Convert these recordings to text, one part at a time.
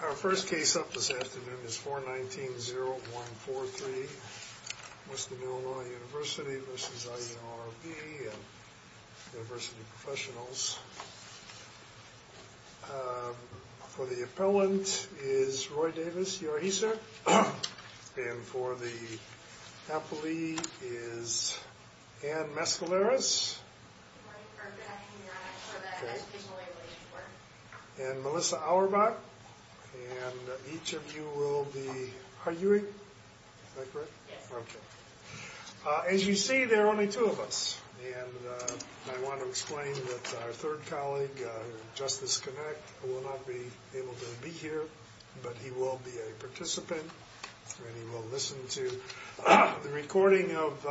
Our first case up this afternoon is 419-0143, Western Illinois University v. IERB and University Professionals. For the appellant is Roy Davis, your HR. And for the appellee is Ann Mescaleras. And Melissa Auerbach. And each of you will be arguing. Is that correct? Yes. Okay. As you see, there are only two of us. And I want to explain that our third colleague, Justice Connick, will not be able to be here, but he will be a participant. And he will listen to the recording of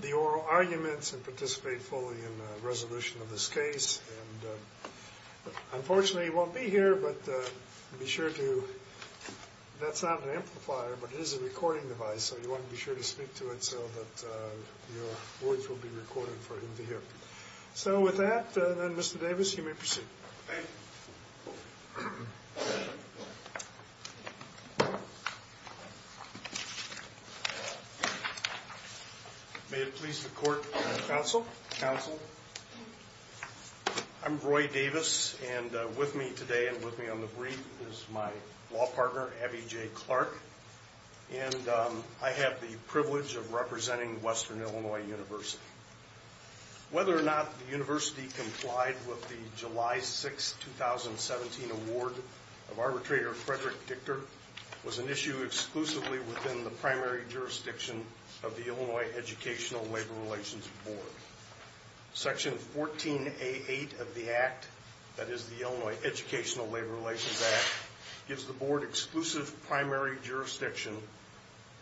the oral arguments and participate fully in the resolution of this case. Unfortunately, he won't be here, but be sure to... That's not an amplifier, but it is a recording device, so you want to be sure to speak to it so that your words will be recorded for him to hear. So with that, then, Mr. Davis, you may proceed. Thank you. Thank you. May it please the court. Counsel. Counsel. I'm Roy Davis, and with me today and with me on the brief is my law partner, Abby J. Clark. And I have the privilege of representing Western Illinois University. Whether or not the university complied with the July 6, 2017, award of arbitrator Frederick Dichter was an issue exclusively within the primary jurisdiction of the Illinois Educational Labor Relations Board. Section 14A.8 of the Act, that is the Illinois Educational Labor Relations Act, gives the Board exclusive primary jurisdiction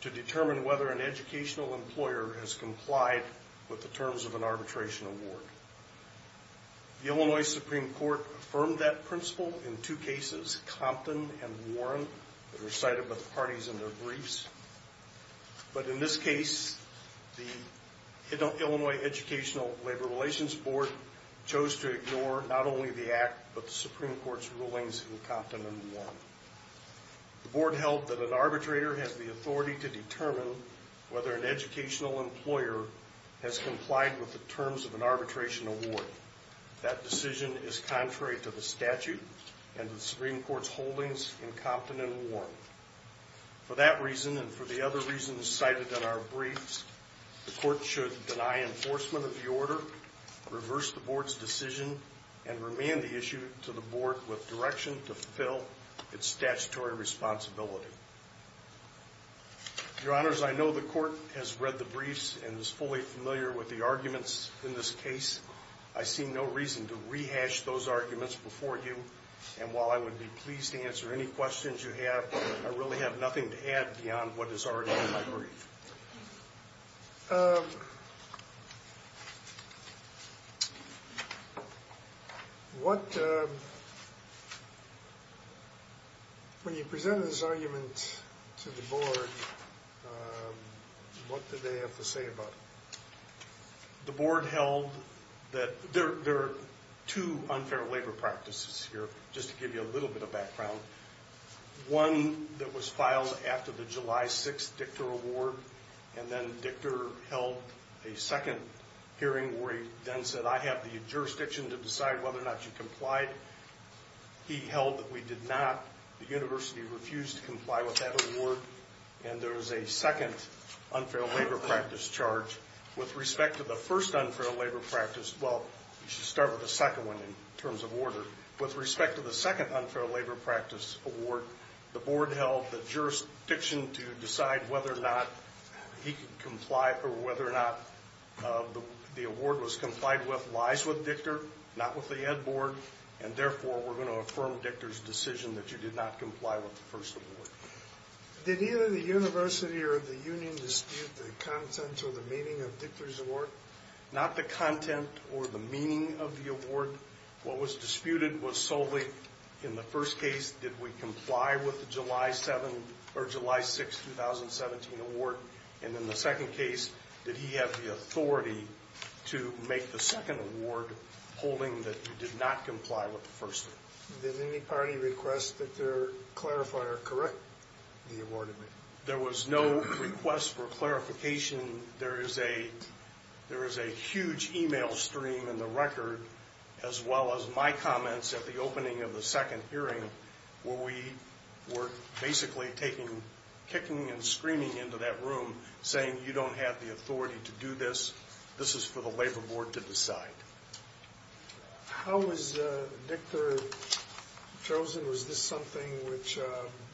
to determine whether an educational employer has complied with the terms of an arbitration award. The Illinois Supreme Court affirmed that principle in two cases, Compton and Warren, that were cited by the parties in their briefs. But in this case, the Illinois Educational Labor Relations Board chose to ignore not only the Act, but the Supreme Court's rulings in Compton and Warren. The Board held that an arbitrator has the authority to determine whether an educational employer has complied with the terms of an arbitration award. That decision is contrary to the statute and the Supreme Court's holdings in Compton and Warren. For that reason and for the other reasons cited in our briefs, the Court should deny enforcement of the order, reverse the Board's decision, and remand the issue to the Board with direction to fulfill its statutory responsibility. Your Honors, I know the Court has read the briefs and is fully familiar with the arguments in this case. I see no reason to rehash those arguments before you, and while I would be pleased to answer any questions you have, I really have nothing to add beyond what is already in my brief. When you presented this argument to the Board, what did they have to say about it? The Board held that there are two unfair labor practices here, just to give you a little bit of background. One that was filed after the July 6th Dictor Award, and then Dictor held a second hearing where he then said, I have the jurisdiction to decide whether or not you complied. He held that we did not. The University refused to comply with that award, and there was a second unfair labor practice charge. With respect to the first unfair labor practice, well, we should start with the second one in terms of order. With respect to the second unfair labor practice award, the Board held the jurisdiction to decide whether or not he could comply or whether or not the award was complied with lies with Dictor, not with the Ed Board, and therefore we're going to affirm Dictor's decision that you did not comply with the first award. Did either the University or the Union dispute the content or the meaning of Dictor's award? Not the content or the meaning of the award. What was disputed was solely in the first case, did we comply with the July 6, 2017 award, and in the second case, did he have the authority to make the second award holding that he did not comply with the first one. Did any party request that their clarifier correct the award? There was no request for clarification. There is a huge e-mail stream in the record as well as my comments at the opening of the second hearing where we were basically kicking and screaming into that room saying you don't have the authority to do this, this is for the Labor Board to decide. How was Dictor chosen? Was this something which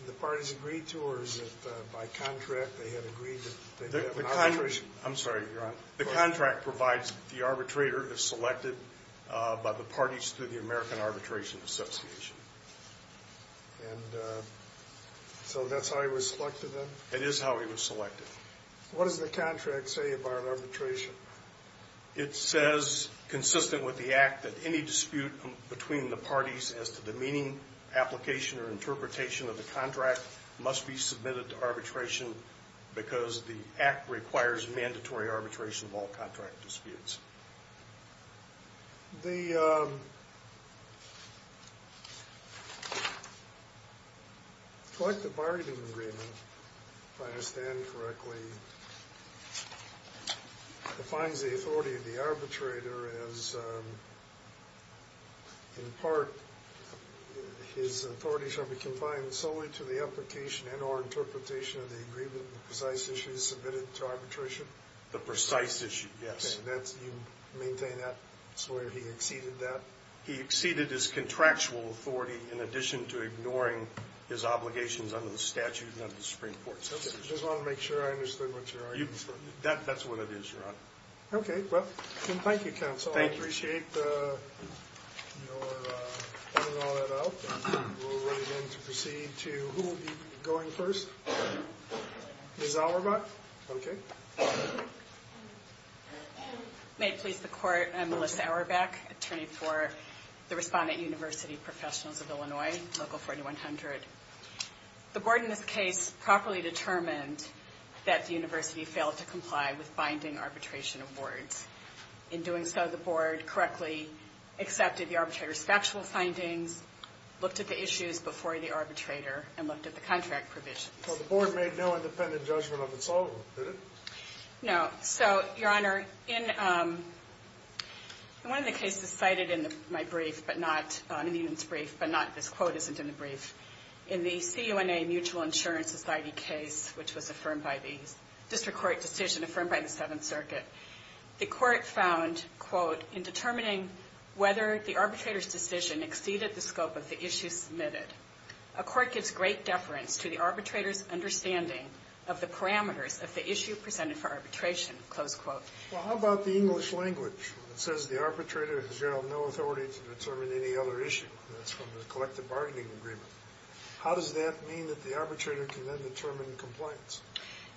the parties agreed to or is it by contract they had agreed to? I'm sorry, you're on. The contract provides that the arbitrator is selected by the parties through the American Arbitration Association. And so that's how he was selected then? It is how he was selected. What does the contract say about arbitration? It says, consistent with the Act, that any dispute between the parties as to the meaning, application, or interpretation of the contract must be submitted to arbitration because the Act requires mandatory arbitration of all contract disputes. The collective bargaining agreement, if I understand correctly, defines the authority of the arbitrator as, in part, his authority shall be confined solely to the application and or interpretation of the agreement of the precise issues submitted to arbitration? The precise issue, yes. And you maintain that? Swear he exceeded that? He exceeded his contractual authority in addition to ignoring his obligations under the statute and under the Supreme Court. I just wanted to make sure I understood what you're arguing. That's what it is, Your Honor. Okay, well, thank you, Counsel. I appreciate your pointing all that out. We'll run again to proceed to... Who will be going first? Ms. Auerbach? Okay. May it please the Court, I'm Melissa Auerbach, attorney for the Respondent University Professionals of Illinois, Local 4100. The Board in this case properly determined that the University failed to comply with binding arbitration awards. In doing so, the Board correctly accepted the arbitrator's factual findings, looked at the issues before the arbitrator, and looked at the contract provisions. So the Board made no independent judgment of its own, did it? No. So, Your Honor, in one of the cases cited in my brief, but not in Eden's brief, but this quote isn't in the brief, in the CUNA Mutual Insurance Society case, which was affirmed by the district court decision, affirmed by the Seventh Circuit, the court found, quote, in determining whether the arbitrator's decision exceeded the scope of the issues submitted, a court gives great deference to the arbitrator's understanding of the parameters of the issue presented for arbitration, close quote. Well, how about the English language? It says the arbitrator has no authority to determine any other issue. That's from the collective bargaining agreement. How does that mean that the arbitrator can then determine compliance?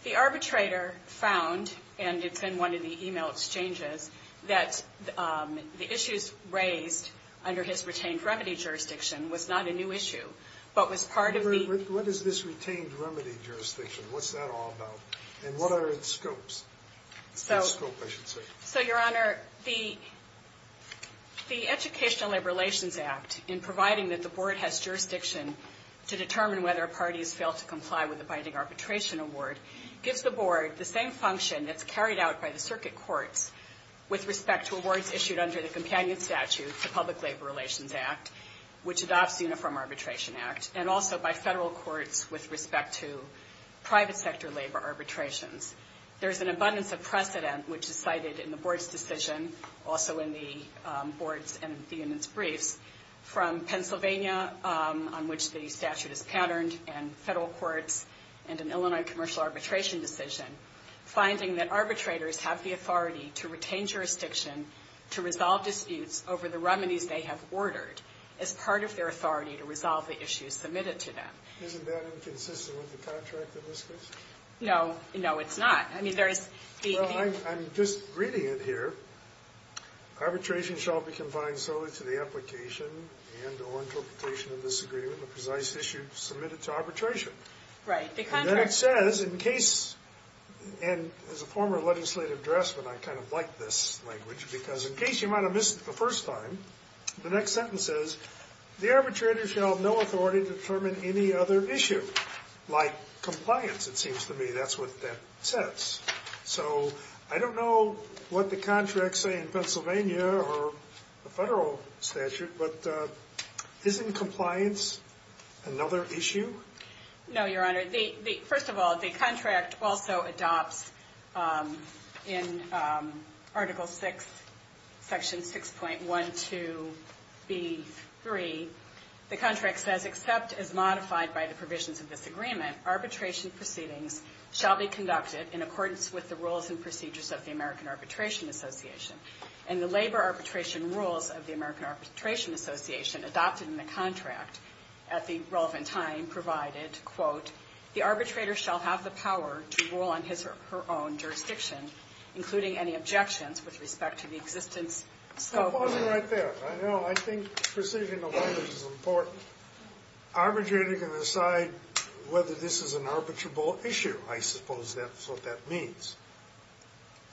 The arbitrator found, and it's in one of the e-mail exchanges, that the issues raised under his retained remedy jurisdiction was not a new issue, but was part of the What is this retained remedy jurisdiction? What's that all about? And what are its scopes? The scope, I should say. So, Your Honor, the Educational Labor Relations Act, in providing that the Board has jurisdiction to determine whether parties fail to comply with the binding arbitration award, gives the Board the same function that's carried out by the circuit courts with respect to awards issued under the companion statute, the Public Labor Relations Act, which adopts the Uniform Arbitration Act, and also by federal courts with respect to private sector labor arbitrations. There's an abundance of precedent, which is cited in the Board's decision, also in the Board's and the unit's briefs, from Pennsylvania, on which the statute is patterned, and federal courts, and an Illinois commercial arbitration decision, finding that arbitrators have the authority to retain jurisdiction to resolve disputes over the remedies they have ordered as part of their authority to resolve the issues submitted to them. Isn't that inconsistent with the contract in this case? No. No, it's not. I mean, there's the... Well, I'm just reading it here. Arbitration shall be confined solely to the application and or interpretation of this agreement, the precise issue submitted to arbitration. Right. The contract... And then it says, in case... And as a former legislative draftsman, I kind of like this language, because in case you might have missed it the first time, the next sentence says, the arbitrator shall have no authority to determine any other issue, like compliance, it seems to me. That's what that says. So I don't know what the contracts say in Pennsylvania or the federal statute, but isn't compliance another issue? No, Your Honor. First of all, the contract also adopts, in Article VI, Section 6.12b3, the contract says, except as modified by the provisions of this agreement, arbitration proceedings shall be conducted in accordance with the rules and procedures of the American Arbitration Association. And the labor arbitration rules of the American Arbitration Association adopted in the contract at the relevant time provided, quote, the arbitrator shall have the power to rule on his or her own jurisdiction, including any objections with respect to the existence... Stop pausing right there. I know, I think precision of language is important. Arbitrator can decide whether this is an arbitrable issue, I suppose that's what that means.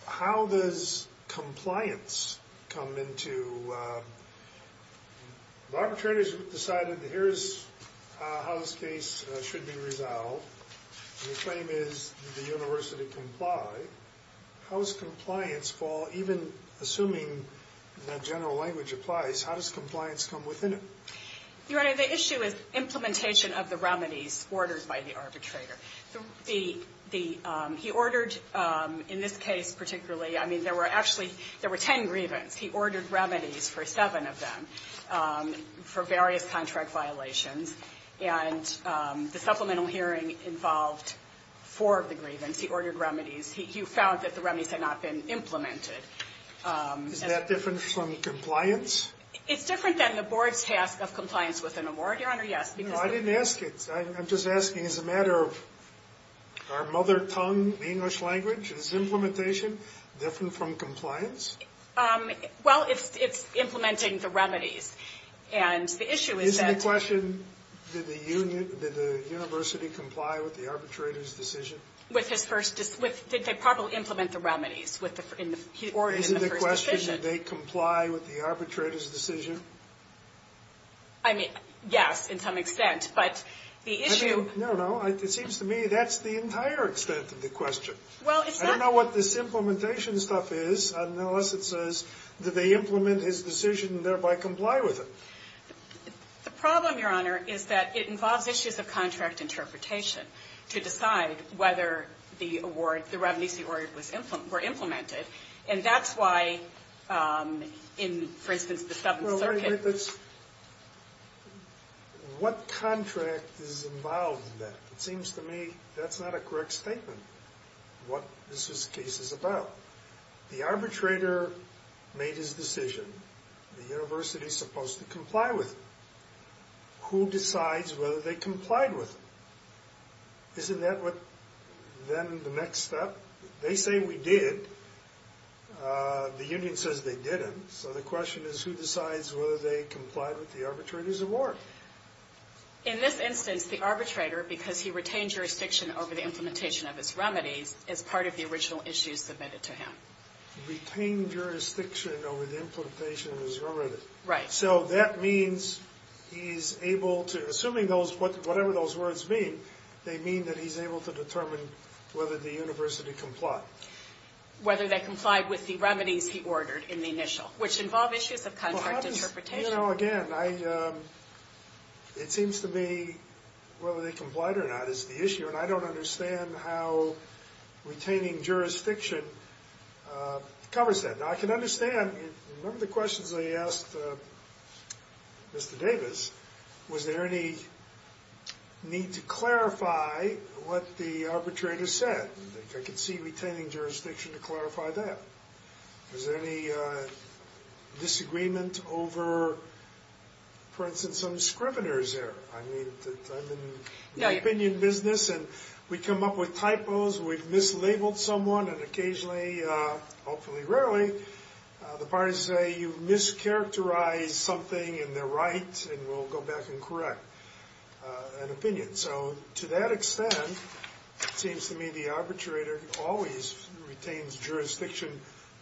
How does compliance come into... The arbitrator has decided, here's how this case should be resolved, and the claim is the university complied. How does compliance fall, even assuming that general language applies, how does compliance come within it? Your Honor, the issue is implementation of the remedies ordered by the arbitrator. He ordered, in this case particularly, I mean, there were actually, there were ten grievance. He ordered remedies for seven of them for various contract violations, and the supplemental hearing involved four of the grievance. He ordered remedies. He found that the remedies had not been implemented. Is that different from compliance? It's different than the board's task of compliance with an award, Your Honor, yes. No, I didn't ask it. I'm just asking as a matter of our mother tongue, the English language, is implementation different from compliance? Well, it's implementing the remedies, and the issue is that... Isn't the question, did the university comply with the arbitrator's decision? With his first, did they properly implement the remedies in the first decision? Did they comply with the arbitrator's decision? I mean, yes, in some extent, but the issue... No, no. It seems to me that's the entire extent of the question. Well, it's not... I don't know what this implementation stuff is unless it says that they implement his decision and thereby comply with it. The problem, Your Honor, is that it involves issues of contract interpretation to decide whether the award, the remedies he ordered were implemented, and that's why in, for instance, the Seventh Circuit... Well, wait, wait, that's... What contract is involved in that? It seems to me that's not a correct statement, what this case is about. The arbitrator made his decision. The university's supposed to comply with it. Who decides whether they complied with it? Isn't that what, then, the next step? They say we did. The union says they didn't, so the question is who decides whether they complied with the arbitrator's award. In this instance, the arbitrator, because he retained jurisdiction over the implementation of his remedies, is part of the original issue submitted to him. Retained jurisdiction over the implementation of his remedies. Right. So that means he's able to... Assuming those... Whatever those words mean, they mean that he's able to determine whether the university complied. Whether they complied with the remedies he ordered in the initial, which involve issues of contract interpretation. Well, I don't... You know, again, I... It seems to me whether they complied or not is the issue, and I don't understand how retaining jurisdiction covers that. Now, I can understand... Remember the questions I asked Mr. Davis. Was there any need to clarify what the arbitrator said? I could see retaining jurisdiction to clarify that. Was there any disagreement over, for instance, some scriveners there? I mean, I'm in the opinion business, and we come up with typos, we've mislabeled someone, and occasionally, hopefully rarely, the parties say you've mischaracterized something, and they're right, and we'll go back and correct an opinion. So to that extent, it seems to me the arbitrator always retains jurisdiction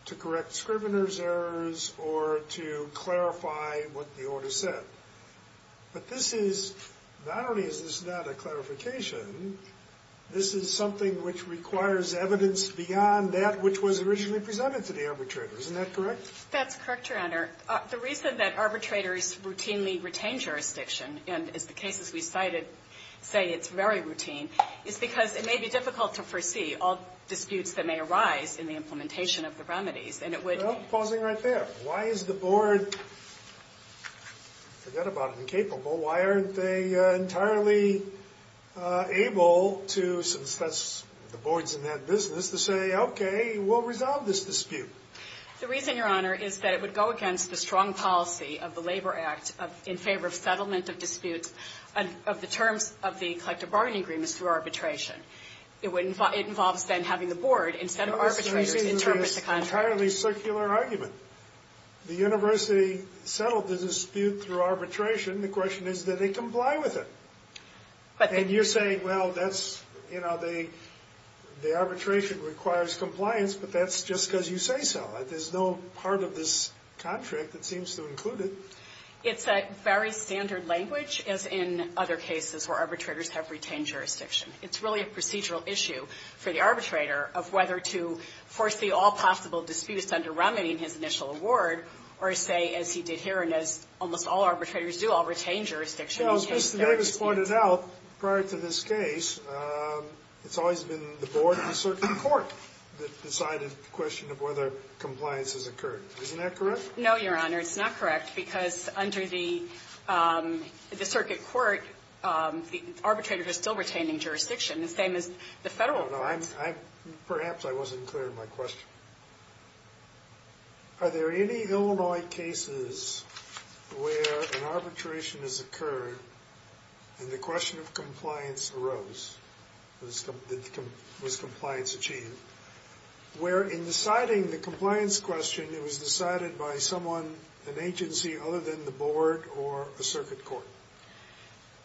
to correct scriveners' errors or to clarify what the order said. But this is... Not only is this not a clarification, this is something which requires evidence beyond that which was originally presented to the arbitrator. Isn't that correct? That's correct, Your Honor. The reason that arbitrators routinely retain jurisdiction, and as the cases we cited say it's very routine, is because it may be difficult to foresee all disputes that may arise in the implementation of the remedies, and it would... Well, pausing right there. Why is the Board, forget about incapable, why aren't they entirely able to, since that's the Board's in that business, to say, okay, we'll resolve this dispute? The reason, Your Honor, is that it would go against the strong policy of the Labor Act in favor of settlement of disputes of the terms of the collective bargaining agreements through arbitration. It involves then having the Board instead of arbitrators interpret the contract. The only reason is this entirely circular argument. The university settled the dispute through arbitration. The question is that they comply with it. And you're saying, well, that's, you know, the arbitration requires compliance, but that's just because you say so. There's no part of this contract that seems to include it. It's a very standard language, as in other cases where arbitrators have retained jurisdiction. It's really a procedural issue for the arbitrator of whether to foresee all possible disputes under remedy in his initial award, or say, as he did here and as almost all arbitrators do, I'll retain jurisdiction in case there is a dispute. Well, as Mr. Davis pointed out prior to this case, it's always been the Board and the circuit court that decide a question of whether compliance has occurred. Isn't that correct? No, Your Honor. It's not correct because under the circuit court, the arbitrator is still retaining jurisdiction. The same as the federal court. Perhaps I wasn't clear in my question. Are there any Illinois cases where an arbitration has occurred and the question of compliance arose, was compliance achieved, where in deciding the compliance question, it was decided by someone, an agency, other than the Board or a circuit court?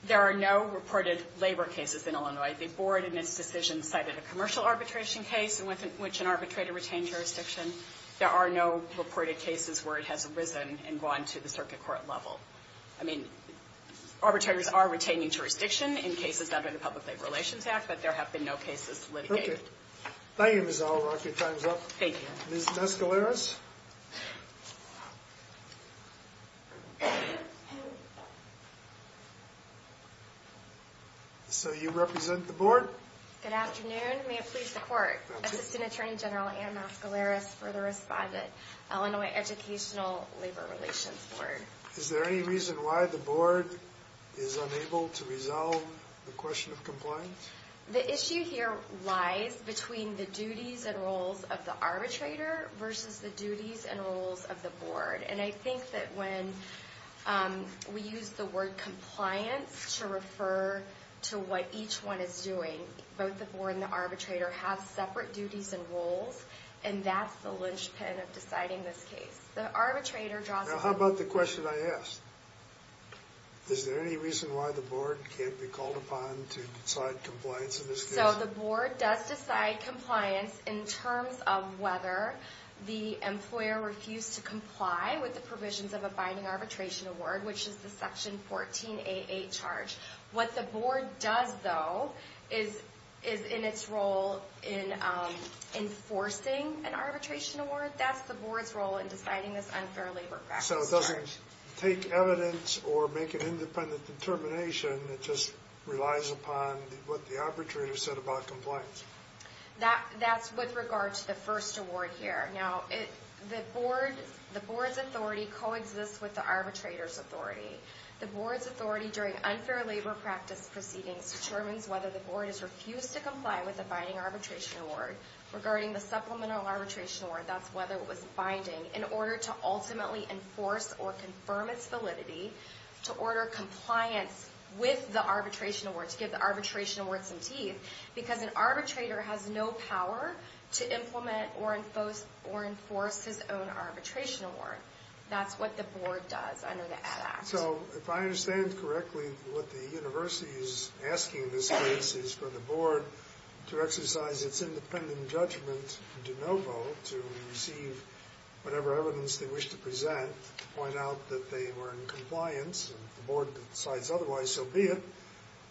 There are no reported labor cases in Illinois. The Board, in its decision, cited a commercial arbitration case in which an arbitrator retained jurisdiction. There are no reported cases where it has arisen and gone to the circuit court level. Arbitrators are retaining jurisdiction in cases under the Public Labor Relations Act, but there have been no cases litigated. Thank you, Ms. Oliver. I'll keep time up. Thank you. Ms. Mascaleras? You represent the Board? Good afternoon. May it please the Court, Assistant Attorney General Ann Mascaleras for the responded Illinois Educational Labor Relations Board. Is there any reason why the Board is unable to resolve the question of compliance? The issue here lies between the duties and roles of the arbitrator versus the duties and roles of the Board. And I think that when we use the word compliance to refer to what each one is doing, both the Board and the arbitrator have separate duties and roles, and that's the linchpin of deciding this case. Now, how about the question I asked? Is there any reason why the Board can't be called upon to decide compliance in this case? So the Board does decide compliance in terms of whether the employer refused to comply with the provisions of a binding arbitration award, which is the Section 1488 charge. What the Board does, though, is in its role in enforcing an arbitration award. But that's the Board's role in deciding this unfair labor practice charge. So it doesn't take evidence or make an independent determination. It just relies upon what the arbitrator said about compliance. That's with regard to the first award here. Now, the Board's authority coexists with the arbitrator's authority. The Board's authority during unfair labor practice proceedings determines whether the Board has refused to comply with the binding arbitration award. Regarding the supplemental arbitration award, that's whether it was binding. In order to ultimately enforce or confirm its validity, to order compliance with the arbitration award, to give the arbitration award some teeth, because an arbitrator has no power to implement or enforce his own arbitration award. That's what the Board does under the ADD Act. So if I understand correctly, what the University is asking in this case is for the Board to exercise its independent judgment de novo to receive whatever evidence they wish to present to point out that they were in compliance. If the Board decides otherwise, so be it.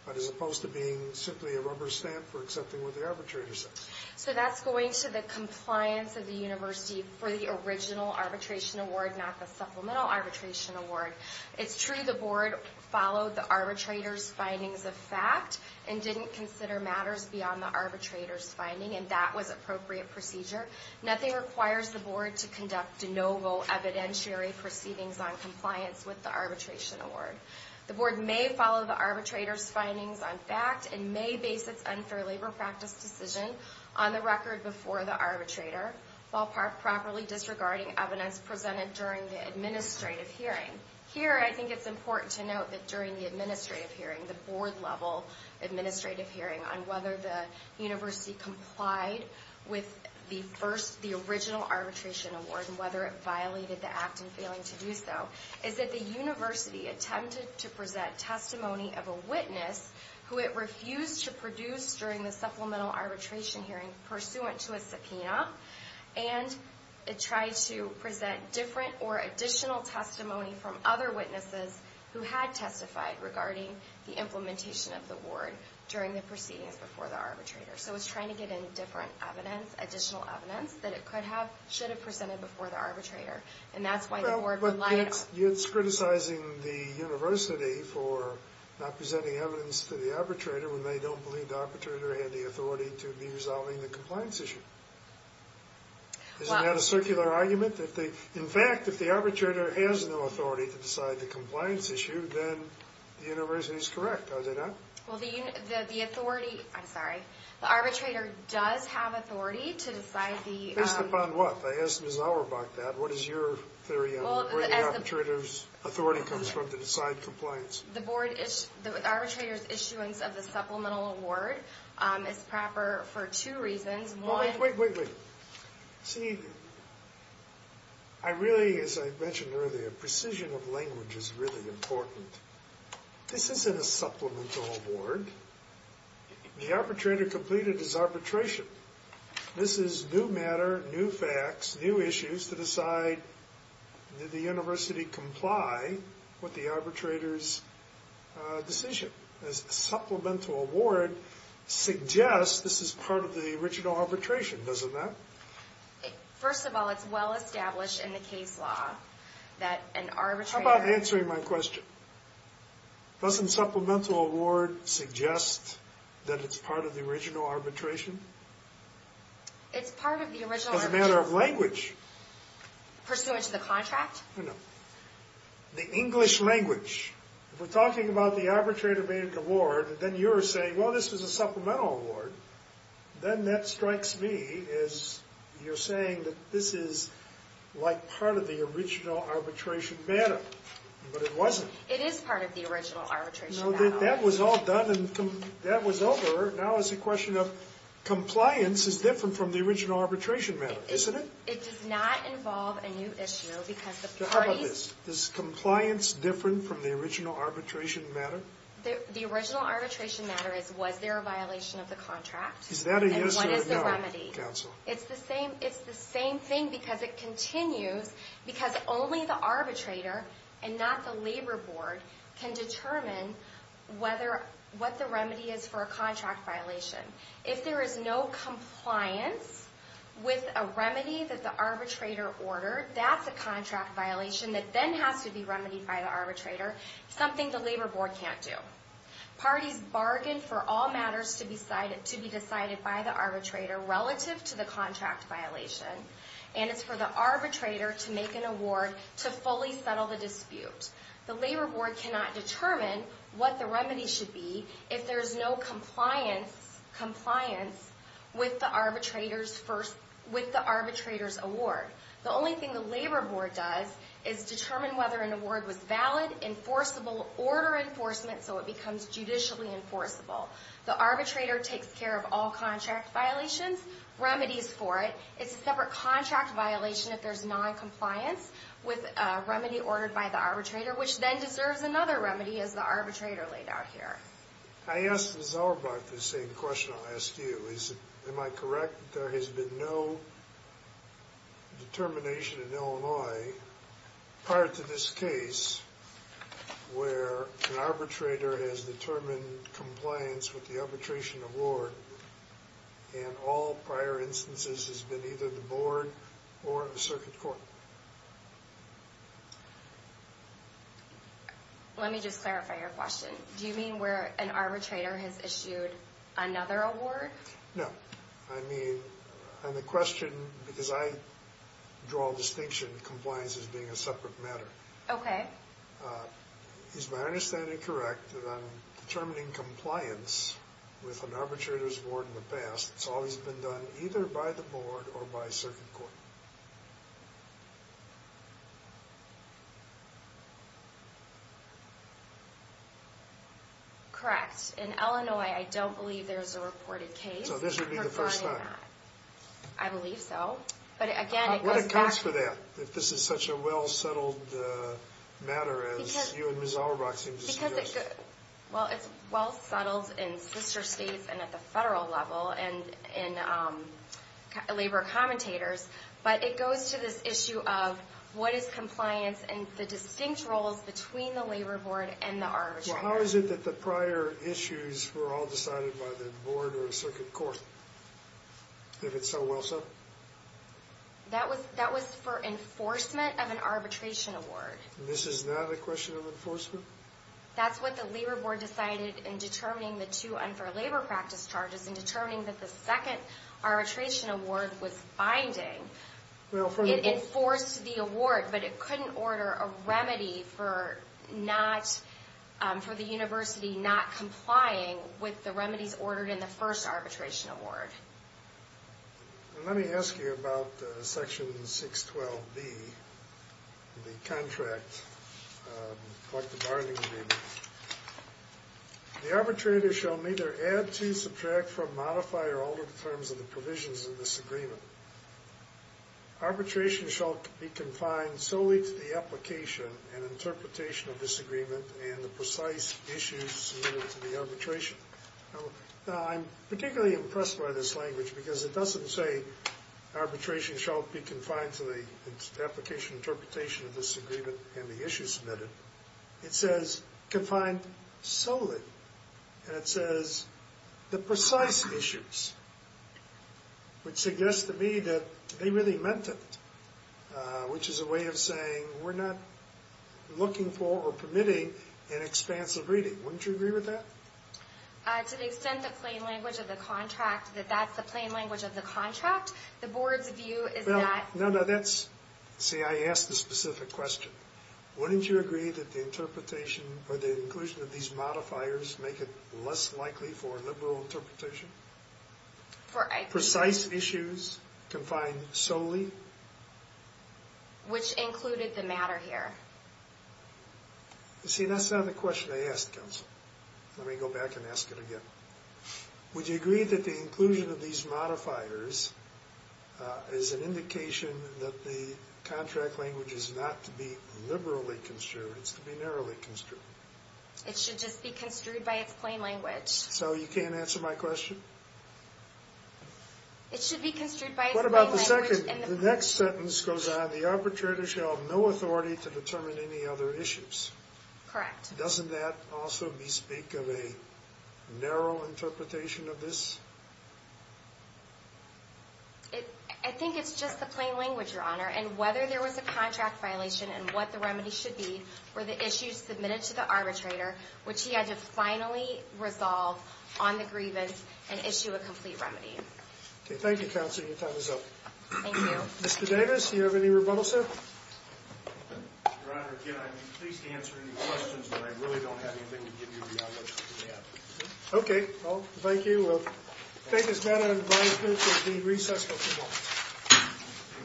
But as opposed to being simply a rubber stamp for accepting what the arbitrator says. So that's going to the compliance of the University for the original arbitration award, not the supplemental arbitration award. It's true the Board followed the arbitrator's findings of fact and didn't consider matters beyond the arbitrator's finding and that was appropriate procedure. Nothing requires the Board to conduct de novo evidentiary proceedings on compliance with the arbitration award. The Board may follow the arbitrator's findings on fact and may base its unfair labor practice decision on the record before the arbitrator, while properly disregarding evidence presented during the administrative hearing. Here, I think it's important to note that during the administrative hearing, the Board-level administrative hearing, on whether the University complied with the original arbitration award and whether it violated the act in failing to do so, is that the University attempted to present testimony of a witness who it refused to produce during the supplemental arbitration hearing pursuant to a subpoena, and it tried to present different or additional testimony from other witnesses who had testified regarding the implementation of the award during the proceedings before the arbitrator. So it's trying to get in different evidence, additional evidence that it could have, should have presented before the arbitrator, and that's why the Board would lie... Well, but it's criticizing the University for not presenting evidence to the arbitrator when they don't believe the arbitrator had the authority to be resolving the compliance issue. Isn't that a circular argument? In fact, if the arbitrator has no authority to decide the compliance issue, then the University is correct, are they not? Well, the authority... I'm sorry. The arbitrator does have authority to decide the... Based upon what? I asked Ms. Auerbach that. What is your theory on where the arbitrator's authority comes from to decide compliance? The arbitrator's issuance of the supplemental award is proper for two reasons. Wait, wait, wait, wait. See, I really, as I mentioned earlier, precision of language is really important. This isn't a supplemental award. The arbitrator completed his arbitration. This is new matter, new facts, new issues to decide did the University comply with the arbitrator's decision. A supplemental award suggests this is part of the original arbitration. Doesn't that? First of all, it's well established in the case law that an arbitrator... How about answering my question? Doesn't supplemental award suggest that it's part of the original arbitration? It's part of the original arbitration. As a matter of language. Pursuant to the contract? No. The English language. If we're talking about the arbitrator-made award, then you're saying, well, this was a supplemental award. Then that strikes me as you're saying that this is like part of the original arbitration matter. But it wasn't. It is part of the original arbitration matter. That was all done and that was over. Now it's a question of compliance is different from the original arbitration matter, isn't it? It does not involve a new issue because the parties... How about this? Is compliance different from the original arbitration matter? The original arbitration matter is was there a violation of the contract? Is that a yes or a no, counsel? It's the same thing because it continues because only the arbitrator and not the labor board can determine what the remedy is for a contract violation. If there is no compliance with a remedy that the arbitrator ordered, that's a contract violation that then has to be remedied by the arbitrator, something the labor board can't do. Parties bargain for all matters to be decided by the arbitrator relative to the contract violation, and it's for the arbitrator to make an award to fully settle the dispute. The labor board cannot determine what the remedy should be if there's no compliance with the arbitrator's award. The only thing the labor board does is determine whether an award was valid, enforceable, order enforcement so it becomes judicially enforceable. The arbitrator takes care of all contract violations, remedies for it. It's a separate contract violation if there's noncompliance with a remedy ordered by the arbitrator, which then deserves another remedy as the arbitrator laid out here. I asked Ms. Auerbach the same question I'll ask you. Am I correct that there has been no determination in Illinois prior to this case where an arbitrator has determined compliance with the arbitration award and all prior instances has been either the board or a circuit court? Let me just clarify your question. Do you mean where an arbitrator has issued another award? No. I mean, on the question, because I draw a distinction, compliance as being a separate matter. Okay. Is my understanding correct that on determining compliance with an arbitrator's award in the past, it's always been done either by the board or by a circuit court? Correct. In Illinois, I don't believe there's a reported case confirming that. So this would be the first time? I believe so. But again, it goes back to... What accounts for that? If this is such a well-settled matter, as you and Ms. Auerbach seem to suggest. Well, it's well-settled in sister states and at the federal level and in labor commentators, but it goes to this issue of what is compliance and the distinct roles between the labor board and the arbitrator. How is it that the prior issues were all decided by the board or a circuit court, if it's so well-set? That was for enforcement of an arbitration award. This is not a question of enforcement? That's what the labor board decided in determining the two unfair labor practice charges and determining that the second arbitration award was binding. It enforced the award, but it couldn't order a remedy for the university not complying with the remedies ordered in the first arbitration award. Let me ask you about Section 612B, the contract collective bargaining agreement. The arbitrator shall neither add to, subtract from, modify, or alter the terms of the provisions of this agreement. Arbitration shall be confined solely to the application and interpretation of this agreement and the precise issues submitted to the arbitration. I'm particularly impressed by this language because it doesn't say arbitration shall be confined to the application and interpretation of this agreement and the issues submitted. It says confined solely. And it says the precise issues, which suggests to me that they really meant it, which is a way of saying we're not looking for or permitting an expansive reading. Wouldn't you agree with that? To the extent the plain language of the contract, that that's the plain language of the contract, the board's view is that... No, no, that's... See, I asked the specific question. Wouldn't you agree that the interpretation or the inclusion of these modifiers make it less likely for a liberal interpretation? For... Precise issues confined solely? Which included the matter here. You see, that's not the question I asked, Counsel. Let me go back and ask it again. Would you agree that the inclusion of these modifiers is an indication that the contract language is not to be liberally construed, it's to be narrowly construed? It should just be construed by its plain language. So you can't answer my question? It should be construed by its plain language... What about the second... The next sentence goes on, the arbitrator shall have no authority to determine any other issues. Correct. Doesn't that also bespeak of a narrow interpretation of this? I think it's just the plain language, Your Honor, and whether there was a contract violation and what the remedy should be were the issues submitted to the arbitrator, which he had to finally resolve on the grievance and issue a complete remedy. Okay, thank you, Counsel. Your time is up. Thank you. Mr. Davis, do you have any rebuttals, sir? Your Honor, again, I'd be pleased to answer any questions, but I really don't have anything to give you beyond what you have. Okay, well, thank you. We'll take this matter under my approval to the recess of tomorrow.